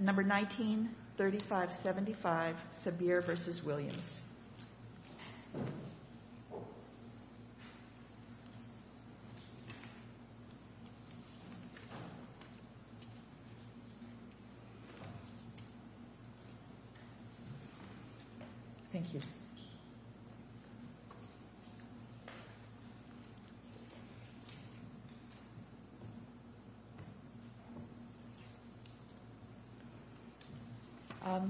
Number 19, 3575 Sabir v. Williams. Thank you.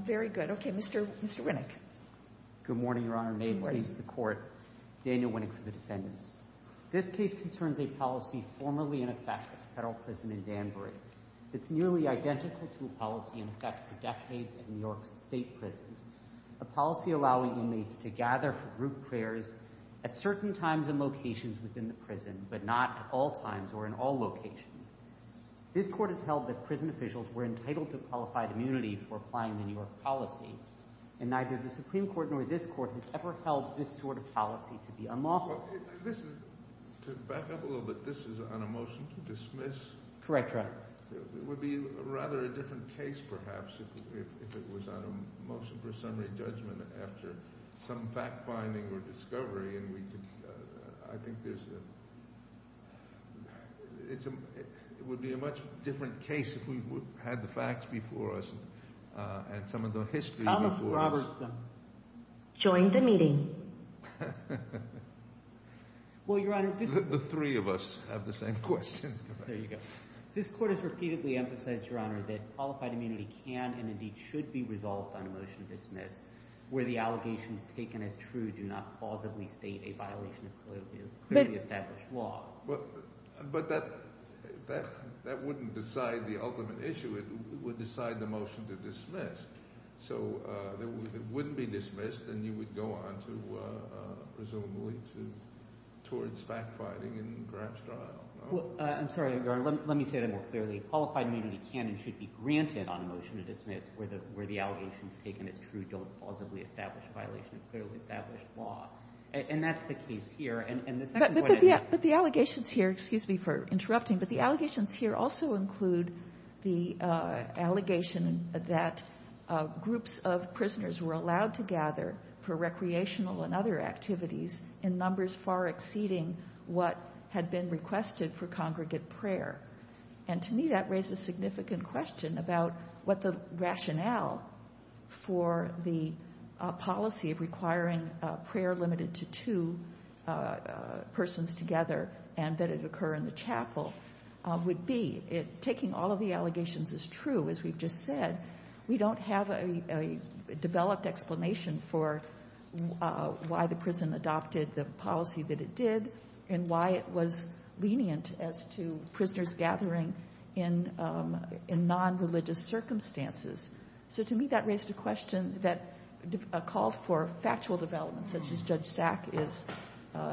Very good. Okay, Mr. Winnick. Good morning, Your Honor. May it please the Court, Daniel Winnick for the defendants. This case concerns a policy formerly in effect at the federal prison in Danbury. It's nearly identical to a policy in effect for decades at New York's state prisons, a policy allowing inmates to gather for group prayers at certain times and locations within the prison but not at all times or in all locations. This Court has held that prison officials were entitled to qualified immunity for applying the New York policy and neither the Supreme Court nor this Court has ever held this sort of policy to be unlawful. This is – to back up a little bit, this is on a motion to dismiss. Correct, Your Honor. It would be rather a different case perhaps if it was on a motion for summary judgment after some fact-finding or discovery and we could – I think there's a – it would be a much different case if we had the facts before us and some of the history before us. Thomas Robertson. Join the meeting. Well, Your Honor, this is – The three of us have the same question. There you go. This Court has repeatedly emphasized, Your Honor, that qualified immunity can and indeed should be resolved on a motion to dismiss where the allegations taken as true do not plausibly state a violation of clearly established law. But that wouldn't decide the ultimate issue. It would decide the motion to dismiss. So it wouldn't be dismissed and you would go on to presumably towards fact-finding and perhaps trial. I'm sorry, Your Honor. Let me say that more clearly. Qualified immunity can and should be granted on a motion to dismiss where the allegations taken as true don't plausibly establish a violation of clearly established law. And that's the case here. But the allegations here – excuse me for interrupting – but the allegations here also include the allegation that groups of prisoners were allowed to gather for recreational and other activities in numbers far exceeding what had been requested for congregate prayer. And to me that raises a significant question about what the rationale for the policy of requiring prayer limited to two persons together and that it occur in the chapel would be. Taking all of the allegations as true, as we've just said, we don't have a developed explanation for why the prison adopted the policy that it did and why it was lenient as to prisoners gathering in nonreligious circumstances. So to me that raised a question that a call for factual development such as Judge Sack is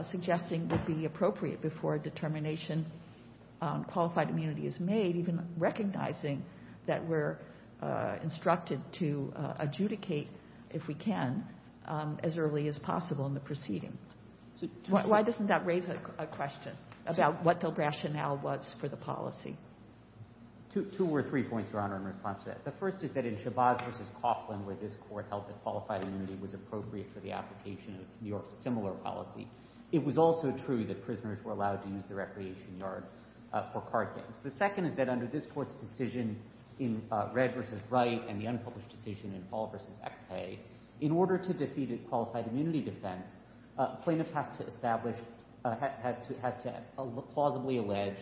suggesting would be appropriate before a determination on qualified immunity is made, even recognizing that we're instructed to adjudicate, if we can, as early as possible in the proceedings. Why doesn't that raise a question about what the rationale was for the policy? Two or three points, Your Honor, in response to that. The first is that in Chabaz v. Coughlin, where this Court held that qualified immunity was appropriate for the application of New York's similar policy, it was also true that prisoners were allowed to use the recreation yard for card games. The second is that under this Court's decision in Red v. Wright and the unpublished decision in Paul v. Ekpe, in order to defeat a qualified immunity defense, plaintiff has to establish, has to plausibly allege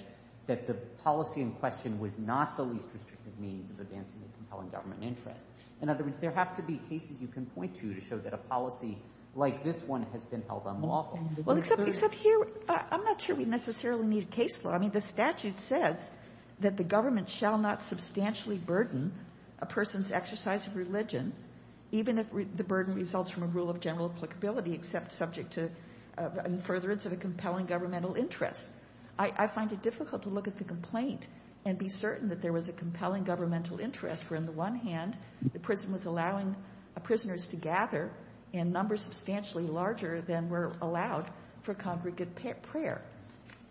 that the policy in question was not the least restrictive means of advancing a compelling government interest. In other words, there have to be cases you can point to to show that a policy like this one has been held unlawful. Well, except here, I'm not sure we necessarily need a case flow. I mean, the statute says that the government shall not substantially burden a person's exercise of religion, even if the burden results from a rule of general applicability, except subject to a furtherance of a compelling governmental interest. I find it difficult to look at the complaint and be certain that there was a compelling governmental interest where, on the one hand, the prison was allowing prisoners to gather in numbers substantially larger than were allowed for congregate prayer.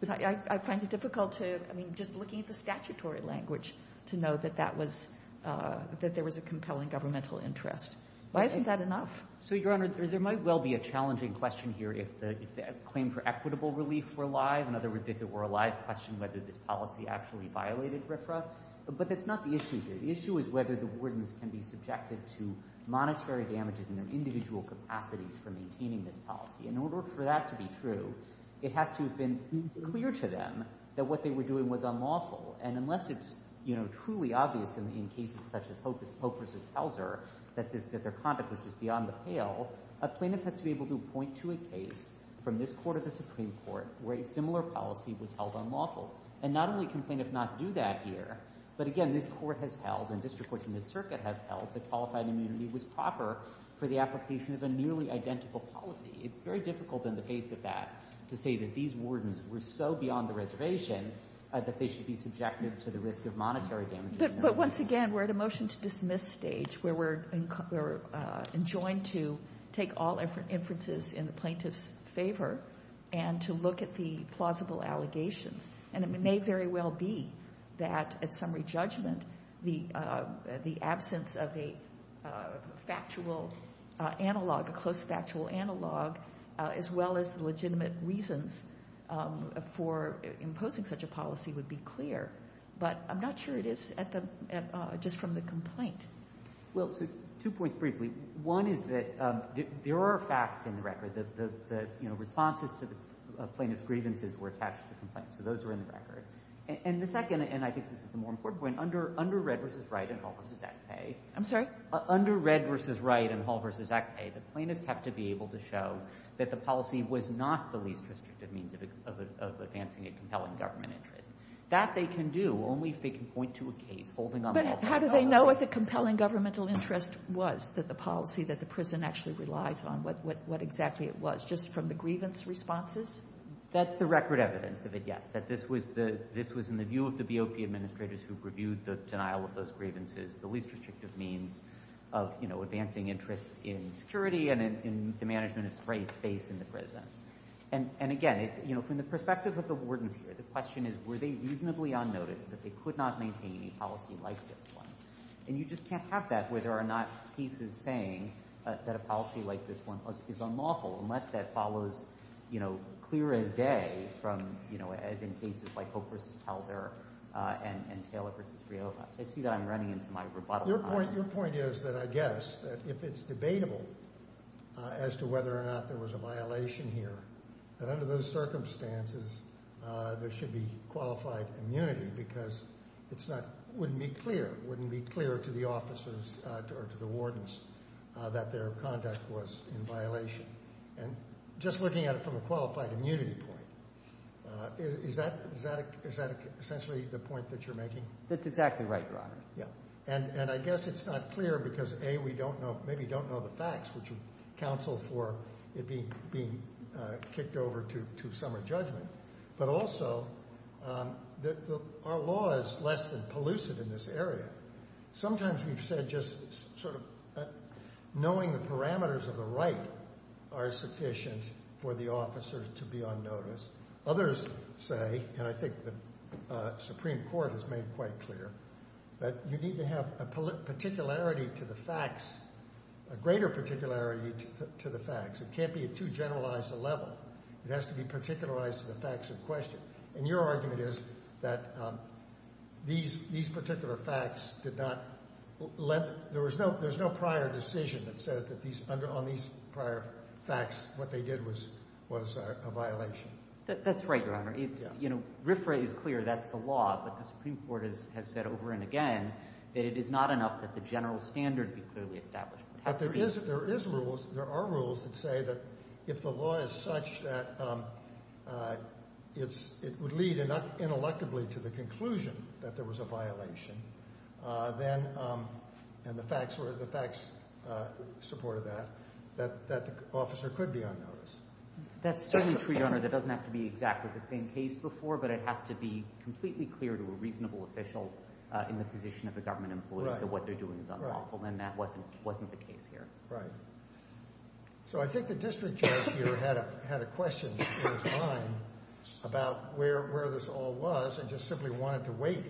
I find it difficult to, I mean, just looking at the statutory language to know that that was, that there was a compelling governmental interest. Why isn't that enough? So, Your Honor, there might well be a challenging question here. If the claim for equitable relief were alive, in other words, if it were alive, question whether this policy actually violated RFRA. But that's not the issue here. The issue is whether the wardens can be subjected to monetary damages in their individual capacities for maintaining this policy. In order for that to be true, it has to have been clear to them that what they were doing was unlawful. And unless it's, you know, truly obvious in cases such as Pope v. Pelzer that their conduct was just beyond the pale, a plaintiff has to be able to point to a case from this Court of the Supreme Court where a similar policy was held unlawful. And not only can plaintiffs not do that here, but again, this Court has held and district courts in this circuit have held that qualified immunity was proper for the application of a nearly identical policy. It's very difficult in the face of that to say that these wardens were so beyond the reservation that they should be subjected to the risk of monetary damages. But once again, we're at a motion-to-dismiss stage where we're enjoined to take all inferences in the plaintiff's favor and to look at the plausible allegations. And it may very well be that at summary judgment the absence of a factual analog, a close factual analog, as well as legitimate reasons for imposing such a policy would be clear. But I'm not sure it is just from the complaint. Well, so two points briefly. One is that there are facts in the record. The, you know, responses to the plaintiff's grievances were attached to the complaint. So those are in the record. And the second, and I think this is the more important point, under Red v. Wright and Hall v. Acpay. I'm sorry? Under Red v. Wright and Hall v. Acpay, the plaintiffs have to be able to show that the policy was not the least restrictive means of advancing a compelling government interest. That they can do only if they can point to a case holding on that. But how do they know what the compelling governmental interest was that the policy that the prison actually relies on? What exactly it was? Just from the grievance responses? That's the record evidence of it, yes. That this was in the view of the BOP administrators who reviewed the denial of those grievances, the least restrictive means of, you know, advancing interests in security and in the management of space in the prison. And again, you know, from the perspective of the wardens here, the question is, were they reasonably unnoticed that they could not maintain a policy like this one? And you just can't have that where there are not cases saying that a policy like this one is unlawful unless that follows, you know, clear as day from, you know, as in cases like Hope v. Pelzer and Taylor v. Rioja. I see that I'm running into my rebuttal time. Your point is that I guess that if it's debatable as to whether or not there was a violation here, that under those circumstances there should be qualified immunity because it's not, wouldn't be clear, wouldn't be clear to the officers or to the wardens that their conduct was in violation. And just looking at it from a qualified immunity point, is that essentially the point that you're making? That's exactly right, Your Honor. And I guess it's not clear because, A, we don't know, maybe don't know the facts, which would counsel for it being kicked over to summer judgment, but also our law is less than pollusive in this area. Sometimes we've said just sort of knowing the parameters of the right are sufficient for the officers to be unnoticed. Others say, and I think the Supreme Court has made quite clear, that you need to have a particularity to the facts, a greater particularity to the facts. It can't be at too generalized a level. It has to be particularized to the facts in question. And your argument is that these particular facts did not let, there was no prior decision that says that on these prior facts what they did was a violation. That's right, Your Honor. RIFRA is clear, that's the law, but the Supreme Court has said over and again that it is not enough that the general standard be clearly established. But there are rules that say that if the law is such that it would lead ineluctably to the conclusion that there was a violation, and the facts support that, that the officer could be unnoticed. That's certainly true, Your Honor. That doesn't have to be exactly the same case before, but it has to be completely clear to a reasonable official in the position of a government employee that what they're doing is unlawful, and that wasn't the case here. Right. So I think the district judge here had a question in his mind about where this all was and just simply wanted to wait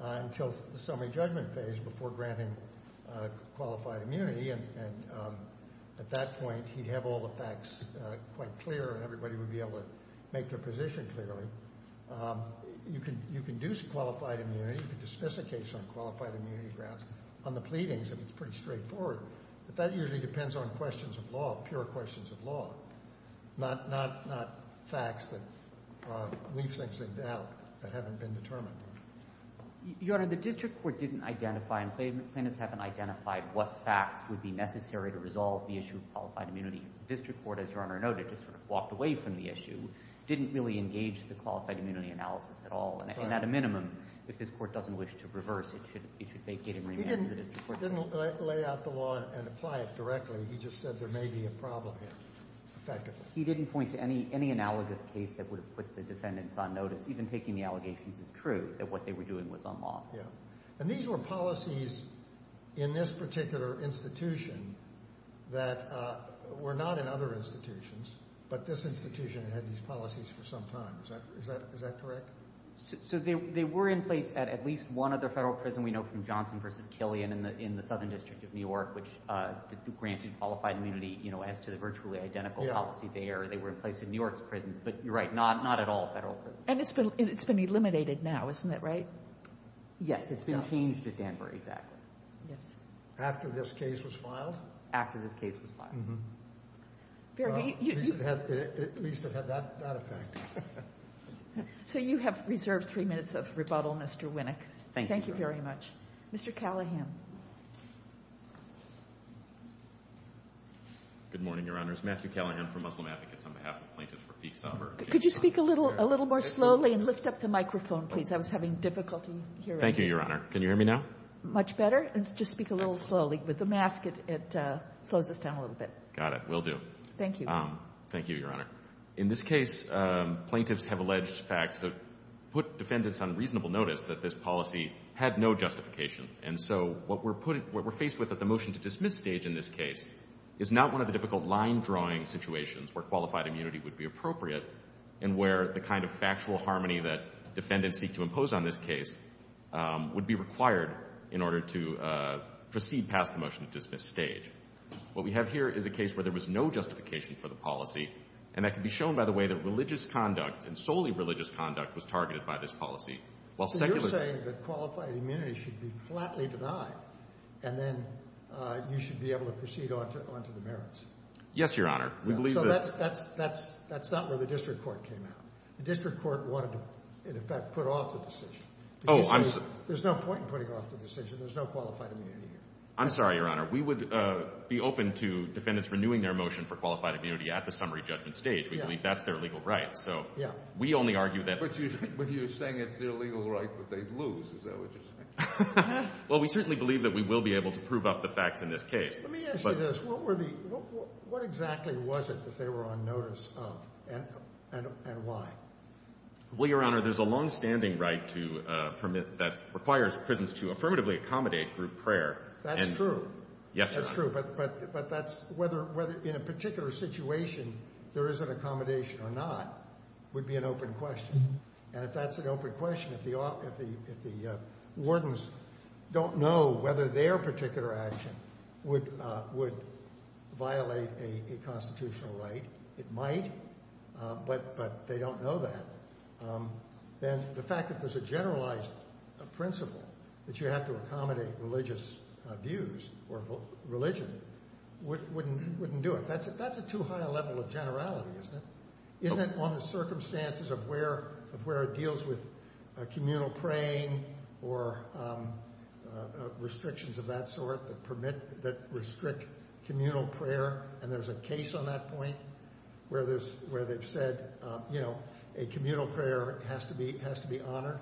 until the summary judgment phase before granting qualified immunity. And at that point, he'd have all the facts quite clear, and everybody would be able to make their position clearly. You can do qualified immunity. You can dismiss a case on qualified immunity grounds on the pleadings, and it's pretty straightforward. But that usually depends on questions of law, pure questions of law, not facts that leave things in doubt that haven't been determined. Your Honor, the district court didn't identify, and plaintiffs haven't identified what facts would be necessary to resolve the issue of qualified immunity. The district court, as Your Honor noted, just sort of walked away from the issue, didn't really engage the qualified immunity analysis at all. And at a minimum, if this court doesn't wish to reverse, it should vacate and remand to the district court. He didn't lay out the law and apply it directly. He just said there may be a problem here. He didn't point to any analogous case that would have put the defendants on notice. Even taking the allegations is true that what they were doing was unlawful. Yeah. And these were policies in this particular institution that were not in other institutions, but this institution had had these policies for some time. Is that correct? So they were in place at at least one other Federal prison. We know from Johnson v. Killian in the Southern District of New York, which granted qualified immunity, you know, as to the virtually identical policy there. They were in place in New York's prisons. But you're right, not at all Federal prisons. And it's been eliminated now. Isn't that right? Yes. It's been changed at Danbury. Exactly. Yes. After this case was filed? After this case was filed. Mm-hmm. At least it had that effect. So you have reserved three minutes of rebuttal, Mr. Winnick. Thank you. Thank you very much. Mr. Callahan. Good morning, Your Honors. Matthew Callahan from Muslim Advocates on behalf of plaintiffs for Peek-Somber. Could you speak a little more slowly and lift up the microphone, please? I was having difficulty hearing you. Thank you, Your Honor. Can you hear me now? Much better. Just speak a little slowly. With the mask, it slows us down a little bit. Got it. Will do. Thank you. Thank you, Your Honor. In this case, plaintiffs have alleged facts that put defendants on reasonable notice that this policy had no justification. And so what we're faced with at the motion to dismiss stage in this case is not one of the difficult line-drawing situations where qualified immunity would be appropriate and where the kind of factual harmony that defendants seek to impose on this case would be required in order to proceed past the motion to dismiss stage. What we have here is a case where there was no justification for the policy, and that can be shown by the way that religious conduct and solely religious conduct was targeted by this policy. So you're saying that qualified immunity should be flatly denied and then you should be able to proceed on to the merits? Yes, Your Honor. So that's not where the district court came out. The district court wanted to, in effect, put off the decision. There's no point in putting off the decision. There's no qualified immunity here. I'm sorry, Your Honor. We would be open to defendants renewing their motion for qualified immunity at the summary judgment stage. We believe that's their legal right. So we only argue that— But you're saying it's their legal right, but they'd lose, is that what you're saying? Well, we certainly believe that we will be able to prove up the facts in this case. Let me ask you this. What exactly was it that they were on notice of and why? Well, Your Honor, there's a longstanding right that requires prisons to affirmatively accommodate group prayer. That's true. Yes, Your Honor. That's true, but whether in a particular situation there is an accommodation or not would be an open question. And if that's an open question, if the wardens don't know whether their particular action would violate a constitutional right, it might, but they don't know that, then the fact that there's a generalized principle that you have to accommodate religious views or religion wouldn't do it. That's a too high a level of generality, isn't it? On the circumstances of where it deals with communal praying or restrictions of that sort that restrict communal prayer, and there's a case on that point where they've said, you know, a communal prayer has to be honored.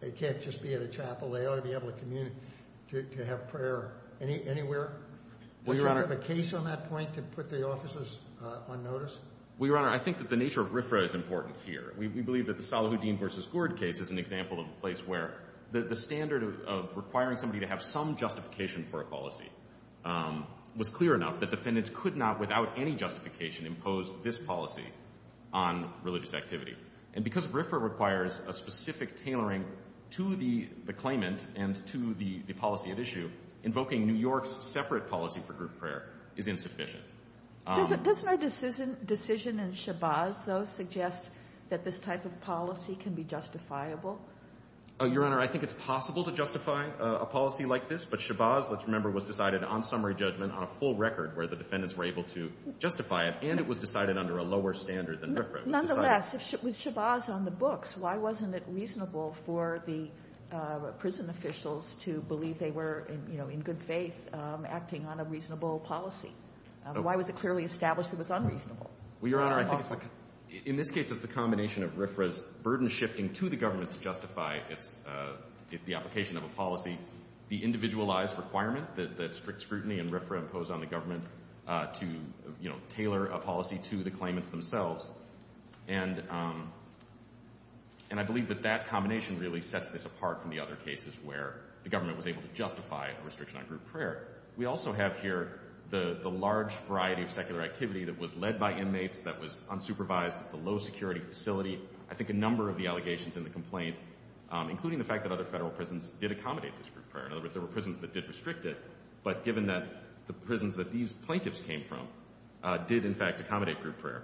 It can't just be at a chapel. They ought to be able to have prayer anywhere. Would you have a case on that point to put the officers on notice? Well, Your Honor, I think that the nature of RFRA is important here. We believe that the Salahuddin v. Gourd case is an example of a place where the standard of requiring somebody to have some justification for a policy was clear enough that defendants could not, without any justification, impose this policy on religious activity. And because RFRA requires a specific tailoring to the claimant and to the policy at issue, invoking New York's separate policy for group prayer is insufficient. Doesn't our decision in Shabazz, though, suggest that this type of policy can be justifiable? Your Honor, I think it's possible to justify a policy like this, but Shabazz, let's remember, was decided on summary judgment on a full record where the defendants were able to justify it, and it was decided under a lower standard than RFRA. Nonetheless, with Shabazz on the books, why wasn't it reasonable for the prison officials to believe they were, you know, in good faith acting on a reasonable policy? Why was it clearly established it was unreasonable? Well, Your Honor, I think it's like, in this case it's the combination of RFRA's burden shifting to the government to justify the application of a policy, the individualized requirement that strict scrutiny and RFRA impose on the government to, you know, tailor a policy to the claimants themselves. And I believe that that combination really sets this apart from the other cases where the government was able to justify a restriction on group prayer. We also have here the large variety of secular activity that was led by inmates, that was unsupervised, it's a low-security facility. I think a number of the allegations in the complaint, including the fact that other federal prisons did accommodate this group prayer. In other words, there were prisons that did restrict it, but given that the prisons that these plaintiffs came from did in fact accommodate group prayer,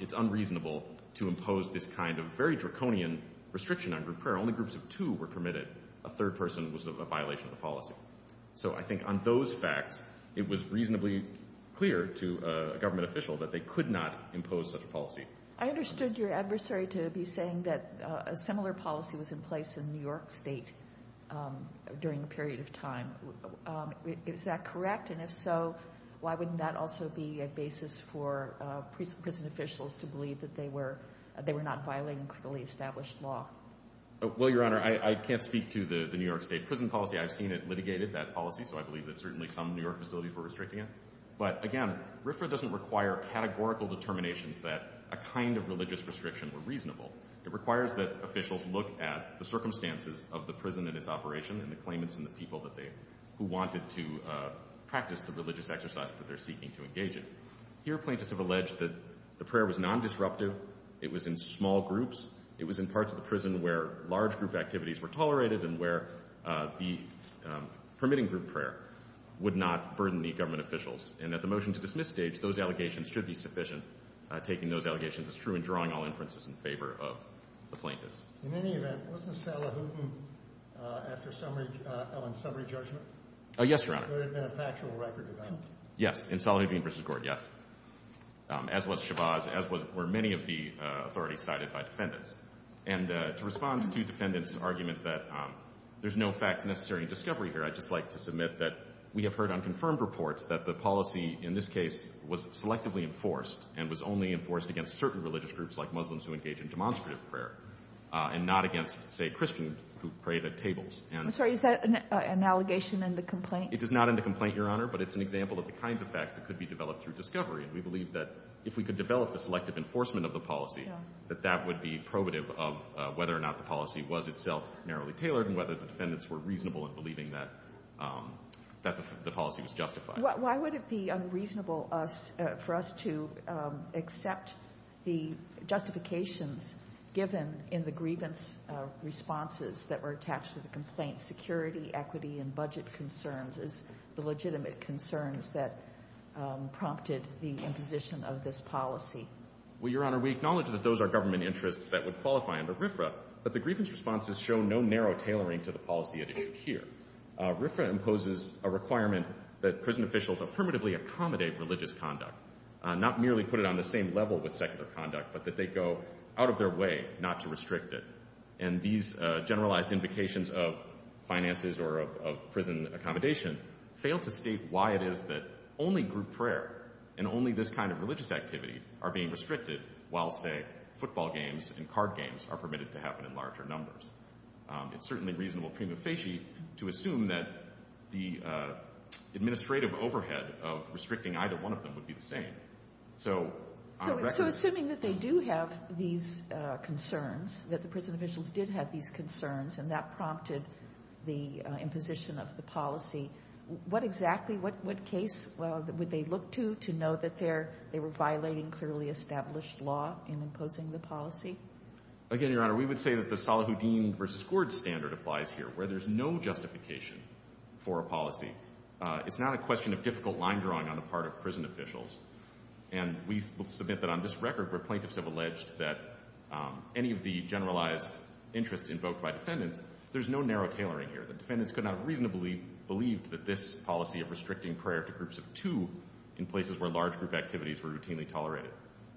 it's unreasonable to impose this kind of very draconian restriction on group prayer. Only groups of two were permitted. A third person was a violation of the policy. So I think on those facts it was reasonably clear to a government official that they could not impose such a policy. I understood your adversary to be saying that a similar policy was in place in New York State during a period of time. Is that correct? And if so, why wouldn't that also be a basis for prison officials to believe that they were not violating criminally established law? Well, Your Honor, I can't speak to the New York State prison policy. I've seen it litigated, that policy, so I believe that certainly some New York facilities were restricting it. But again, RFRA doesn't require categorical determinations that a kind of religious restriction were reasonable. It requires that officials look at the circumstances of the prison and its operation and the claimants and the people who wanted to practice the religious exercise that they're seeking to engage in. Here, plaintiffs have alleged that the prayer was non-disruptive, it was in small groups, it was in parts of the prison where large group activities were tolerated and where the permitting group prayer would not burden the government officials. And at the motion-to-dismiss stage, those allegations should be sufficient. Taking those allegations as true and drawing all inferences in favor of the plaintiffs. In any event, wasn't Salahuddin after Ellen's summary judgment? Yes, Your Honor. There had been a factual record of that. Yes, in Salahuddin v. Gord, yes. As was Shabazz, as were many of the authorities cited by defendants. And to respond to defendants' argument that there's no facts necessary in discovery here, I'd just like to submit that we have heard on confirmed reports that the policy in this case was selectively enforced and was only enforced against certain religious groups like Muslims who engage in demonstrative prayer and not against, say, Christians who prayed at tables. I'm sorry. Is that an allegation in the complaint? It is not in the complaint, Your Honor, but it's an example of the kinds of facts that could be developed through discovery. And we believe that if we could develop the selective enforcement of the policy, that that would be probative of whether or not the policy was itself narrowly tailored and whether the defendants were reasonable in believing that the policy was justified. Why would it be unreasonable for us to accept the justifications given in the grievance responses that were attached to the complaint, security, equity, and budget concerns as the legitimate concerns that prompted the imposition of this policy? Well, Your Honor, we acknowledge that those are government interests that would qualify under RFRA, but the grievance responses show no narrow tailoring to the policy at issue here. RFRA imposes a requirement that prison officials affirmatively accommodate religious conduct, not merely put it on the same level with secular conduct, but that they go out of their way not to restrict it. And these generalized implications of finances or of prison accommodation fail to state why it is that only group prayer and only this kind of religious activity are being restricted while, say, football games and card games are permitted to happen in larger numbers. It's certainly reasonable prima facie to assume that the administrative overhead of restricting either one of them would be the same. So assuming that they do have these concerns, that the prison officials did have these concerns and that prompted the imposition of the policy, what exactly, what case would they look to to know that they were violating clearly established law in imposing the policy? Again, Your Honor, we would say that the Salahuddin v. Gord standard applies here, where there's no justification for a policy. It's not a question of difficult line drawing on the part of prison officials. And we submit that on this record where plaintiffs have alleged that any of the generalized interests invoked by defendants, there's no narrow tailoring here. The defendants could not reasonably believe that this policy of restricting prayer to groups of two in places where large group activities were routinely tolerated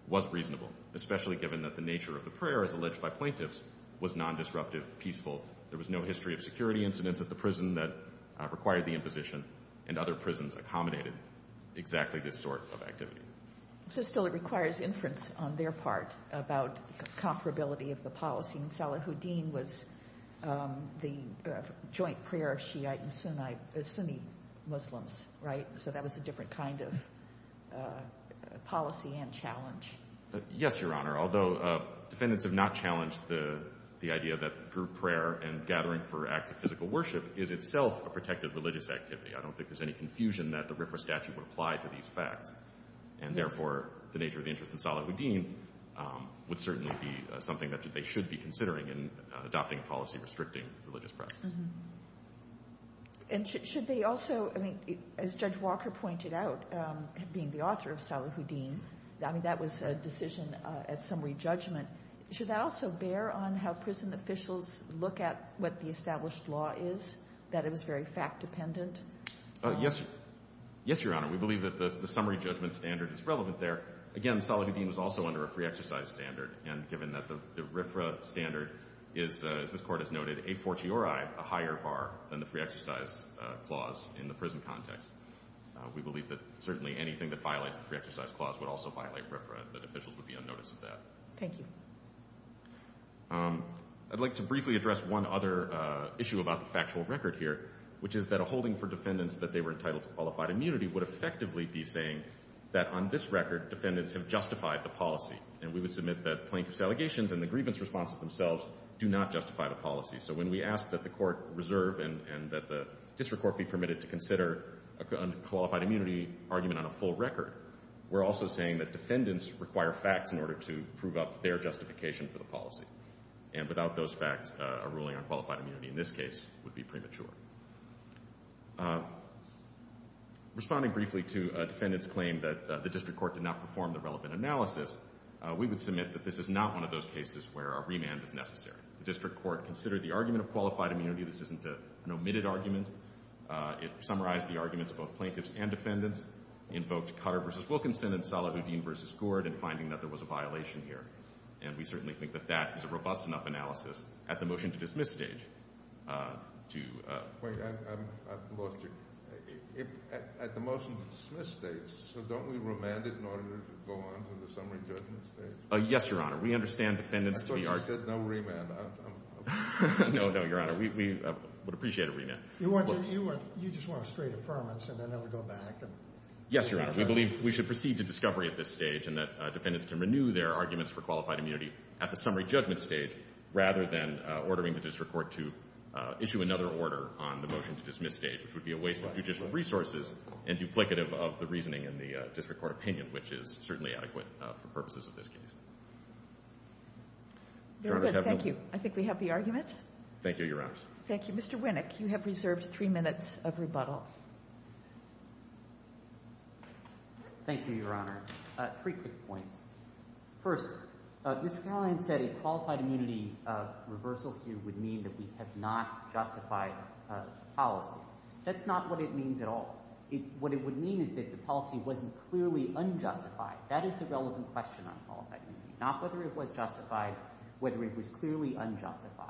was reasonable, especially given that the nature of the prayer, as alleged by plaintiffs, was nondisruptive, peaceful. There was no history of security incidents at the prison that required the imposition, and other prisons accommodated exactly this sort of activity. So still it requires inference on their part about comparability of the policy. And Salahuddin was the joint prayer of Shiite and Sunni Muslims, right? So that was a different kind of policy and challenge. Yes, Your Honor, although defendants have not challenged the idea that group prayer and gathering for acts of physical worship is itself a protected religious activity. I don't think there's any confusion that the RFRA statute would apply to these facts, and therefore the nature of the interest in Salahuddin would certainly be something that they should be considering in adopting a policy restricting religious practices. And should they also, I mean, as Judge Walker pointed out, being the author of Salahuddin, I mean, that was a decision at summary judgment. Should that also bear on how prison officials look at what the established law is, that it was very fact-dependent? Yes, Your Honor. We believe that the summary judgment standard is relevant there. Again, Salahuddin was also under a free exercise standard, and given that the RFRA standard is, as this Court has noted, a fortiori, a higher bar than the free exercise clause in the prison context, we believe that certainly anything that violates the free exercise clause would also violate RFRA and that officials would be unnoticed of that. Thank you. I'd like to briefly address one other issue about the factual record here, which is that a holding for defendants that they were entitled to qualified immunity would effectively be saying that on this record defendants have justified the policy, and we would submit that plaintiff's allegations and the grievance responses themselves do not justify the policy. So when we ask that the Court reserve and that the district court be permitted to consider a qualified immunity argument on a full record, we're also saying that defendants require facts in order to prove up their justification for the policy, and without those facts a ruling on qualified immunity in this case would be premature. Responding briefly to a defendant's claim that the district court did not perform the relevant analysis, we would submit that this is not one of those cases where a remand is necessary. The district court considered the argument of qualified immunity. This isn't an omitted argument. It summarized the arguments of both plaintiffs and defendants, invoked Cutter v. Wilkinson and Salahuddin v. Gord in finding that there was a violation here, and we certainly think that that is a robust enough analysis at the motion-to-dismiss stage to— Wait. I've lost you. At the motion-to-dismiss stage, so don't we remand it in order to go on to the summary judgment stage? Yes, Your Honor. We understand defendants to be— I thought you said no remand. No, no, Your Honor. We would appreciate a remand. You just want a straight affirmance and then it would go back? Yes, Your Honor. We believe we should proceed to discovery at this stage and that defendants can renew their arguments for qualified immunity at the summary judgment stage rather than ordering the district court to issue another order on the motion-to-dismiss stage, which would be a waste of judicial resources and duplicative of the reasoning in the district court opinion, which is certainly adequate for purposes of this case. Very good. Thank you. I think we have the argument. Thank you, Your Honors. Thank you. Mr. Winnick, you have reserved three minutes of rebuttal. Thank you, Your Honor. Three quick points. First, Mr. Carlin said a qualified immunity reversal here would mean that we have not justified policy. That's not what it means at all. What it would mean is that the policy wasn't clearly unjustified. That is the relevant question on qualified immunity, not whether it was justified, whether it was clearly unjustified.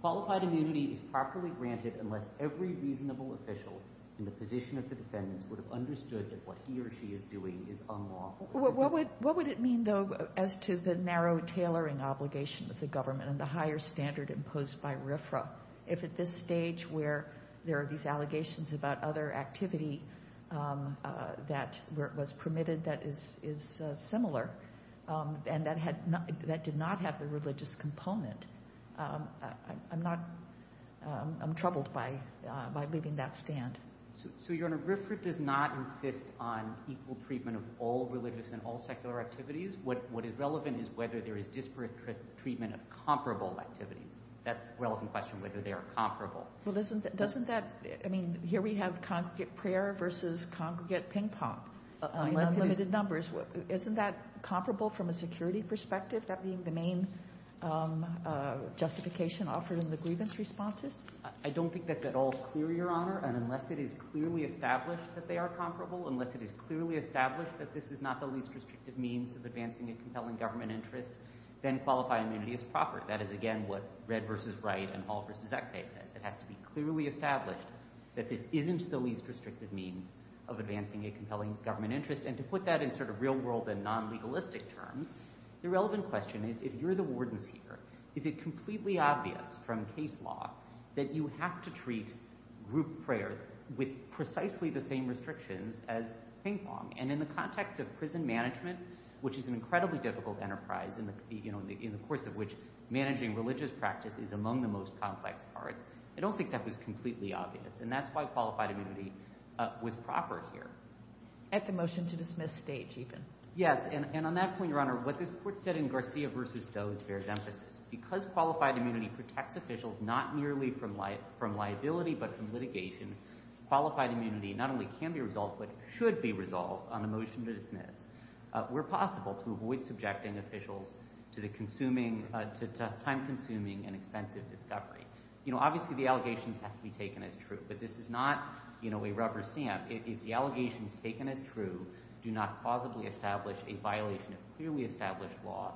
Qualified immunity is properly granted unless every reasonable official in the position of the defendants would have understood that what he or she is doing is unlawful. What would it mean, though, as to the narrow tailoring obligation of the government and the higher standard imposed by RFRA if at this stage where there are these allegations about other activity that was permitted that is similar and that did not have the religious component? I'm troubled by leaving that stand. So, Your Honor, RFRA does not insist on equal treatment of all religious and all secular activities. What is relevant is whether there is disparate treatment of comparable activities. That's a relevant question, whether they are comparable. Well, doesn't that – I mean, here we have congregate prayer versus congregate ping-pong. I mean, there's limited numbers. Isn't that comparable from a security perspective, that being the main justification offered in the grievance responses? I don't think that's at all clear, Your Honor. And unless it is clearly established that they are comparable, unless it is clearly established that this is not the least restrictive means of advancing a compelling government interest, then qualified immunity is proper. That is, again, what Red v. Wright and Hall v. Eckfey says. It has to be clearly established that this isn't the least restrictive means of advancing a compelling government interest. And to put that in sort of real-world and non-legalistic terms, the relevant question is if you're the wardens here, is it completely obvious from case law that you have to treat group prayer with precisely the same restrictions as ping-pong? And in the context of prison management, which is an incredibly difficult enterprise in the course of which managing religious practice is among the most complex parts, I don't think that was completely obvious, and that's why qualified immunity was proper here. At the motion-to-dismiss stage, even. Yes, and on that point, Your Honor, what this Court said in Garcia v. Doe bears emphasis. Because qualified immunity protects officials not merely from liability but from litigation, qualified immunity not only can be resolved but should be resolved on a motion to dismiss where possible to avoid subjecting officials to time-consuming and expensive discovery. Obviously, the allegations have to be taken as true, but this is not a rubber stamp. If the allegations taken as true do not plausibly establish a violation of clearly established law,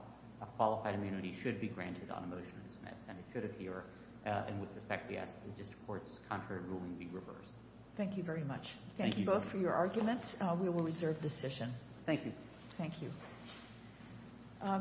qualified immunity should be granted on a motion to dismiss, and it should appear with respect to the District Court's contrary ruling be reversed. Thank you very much. Thank you both for your arguments. We will reserve decision. Thank you. Thank you.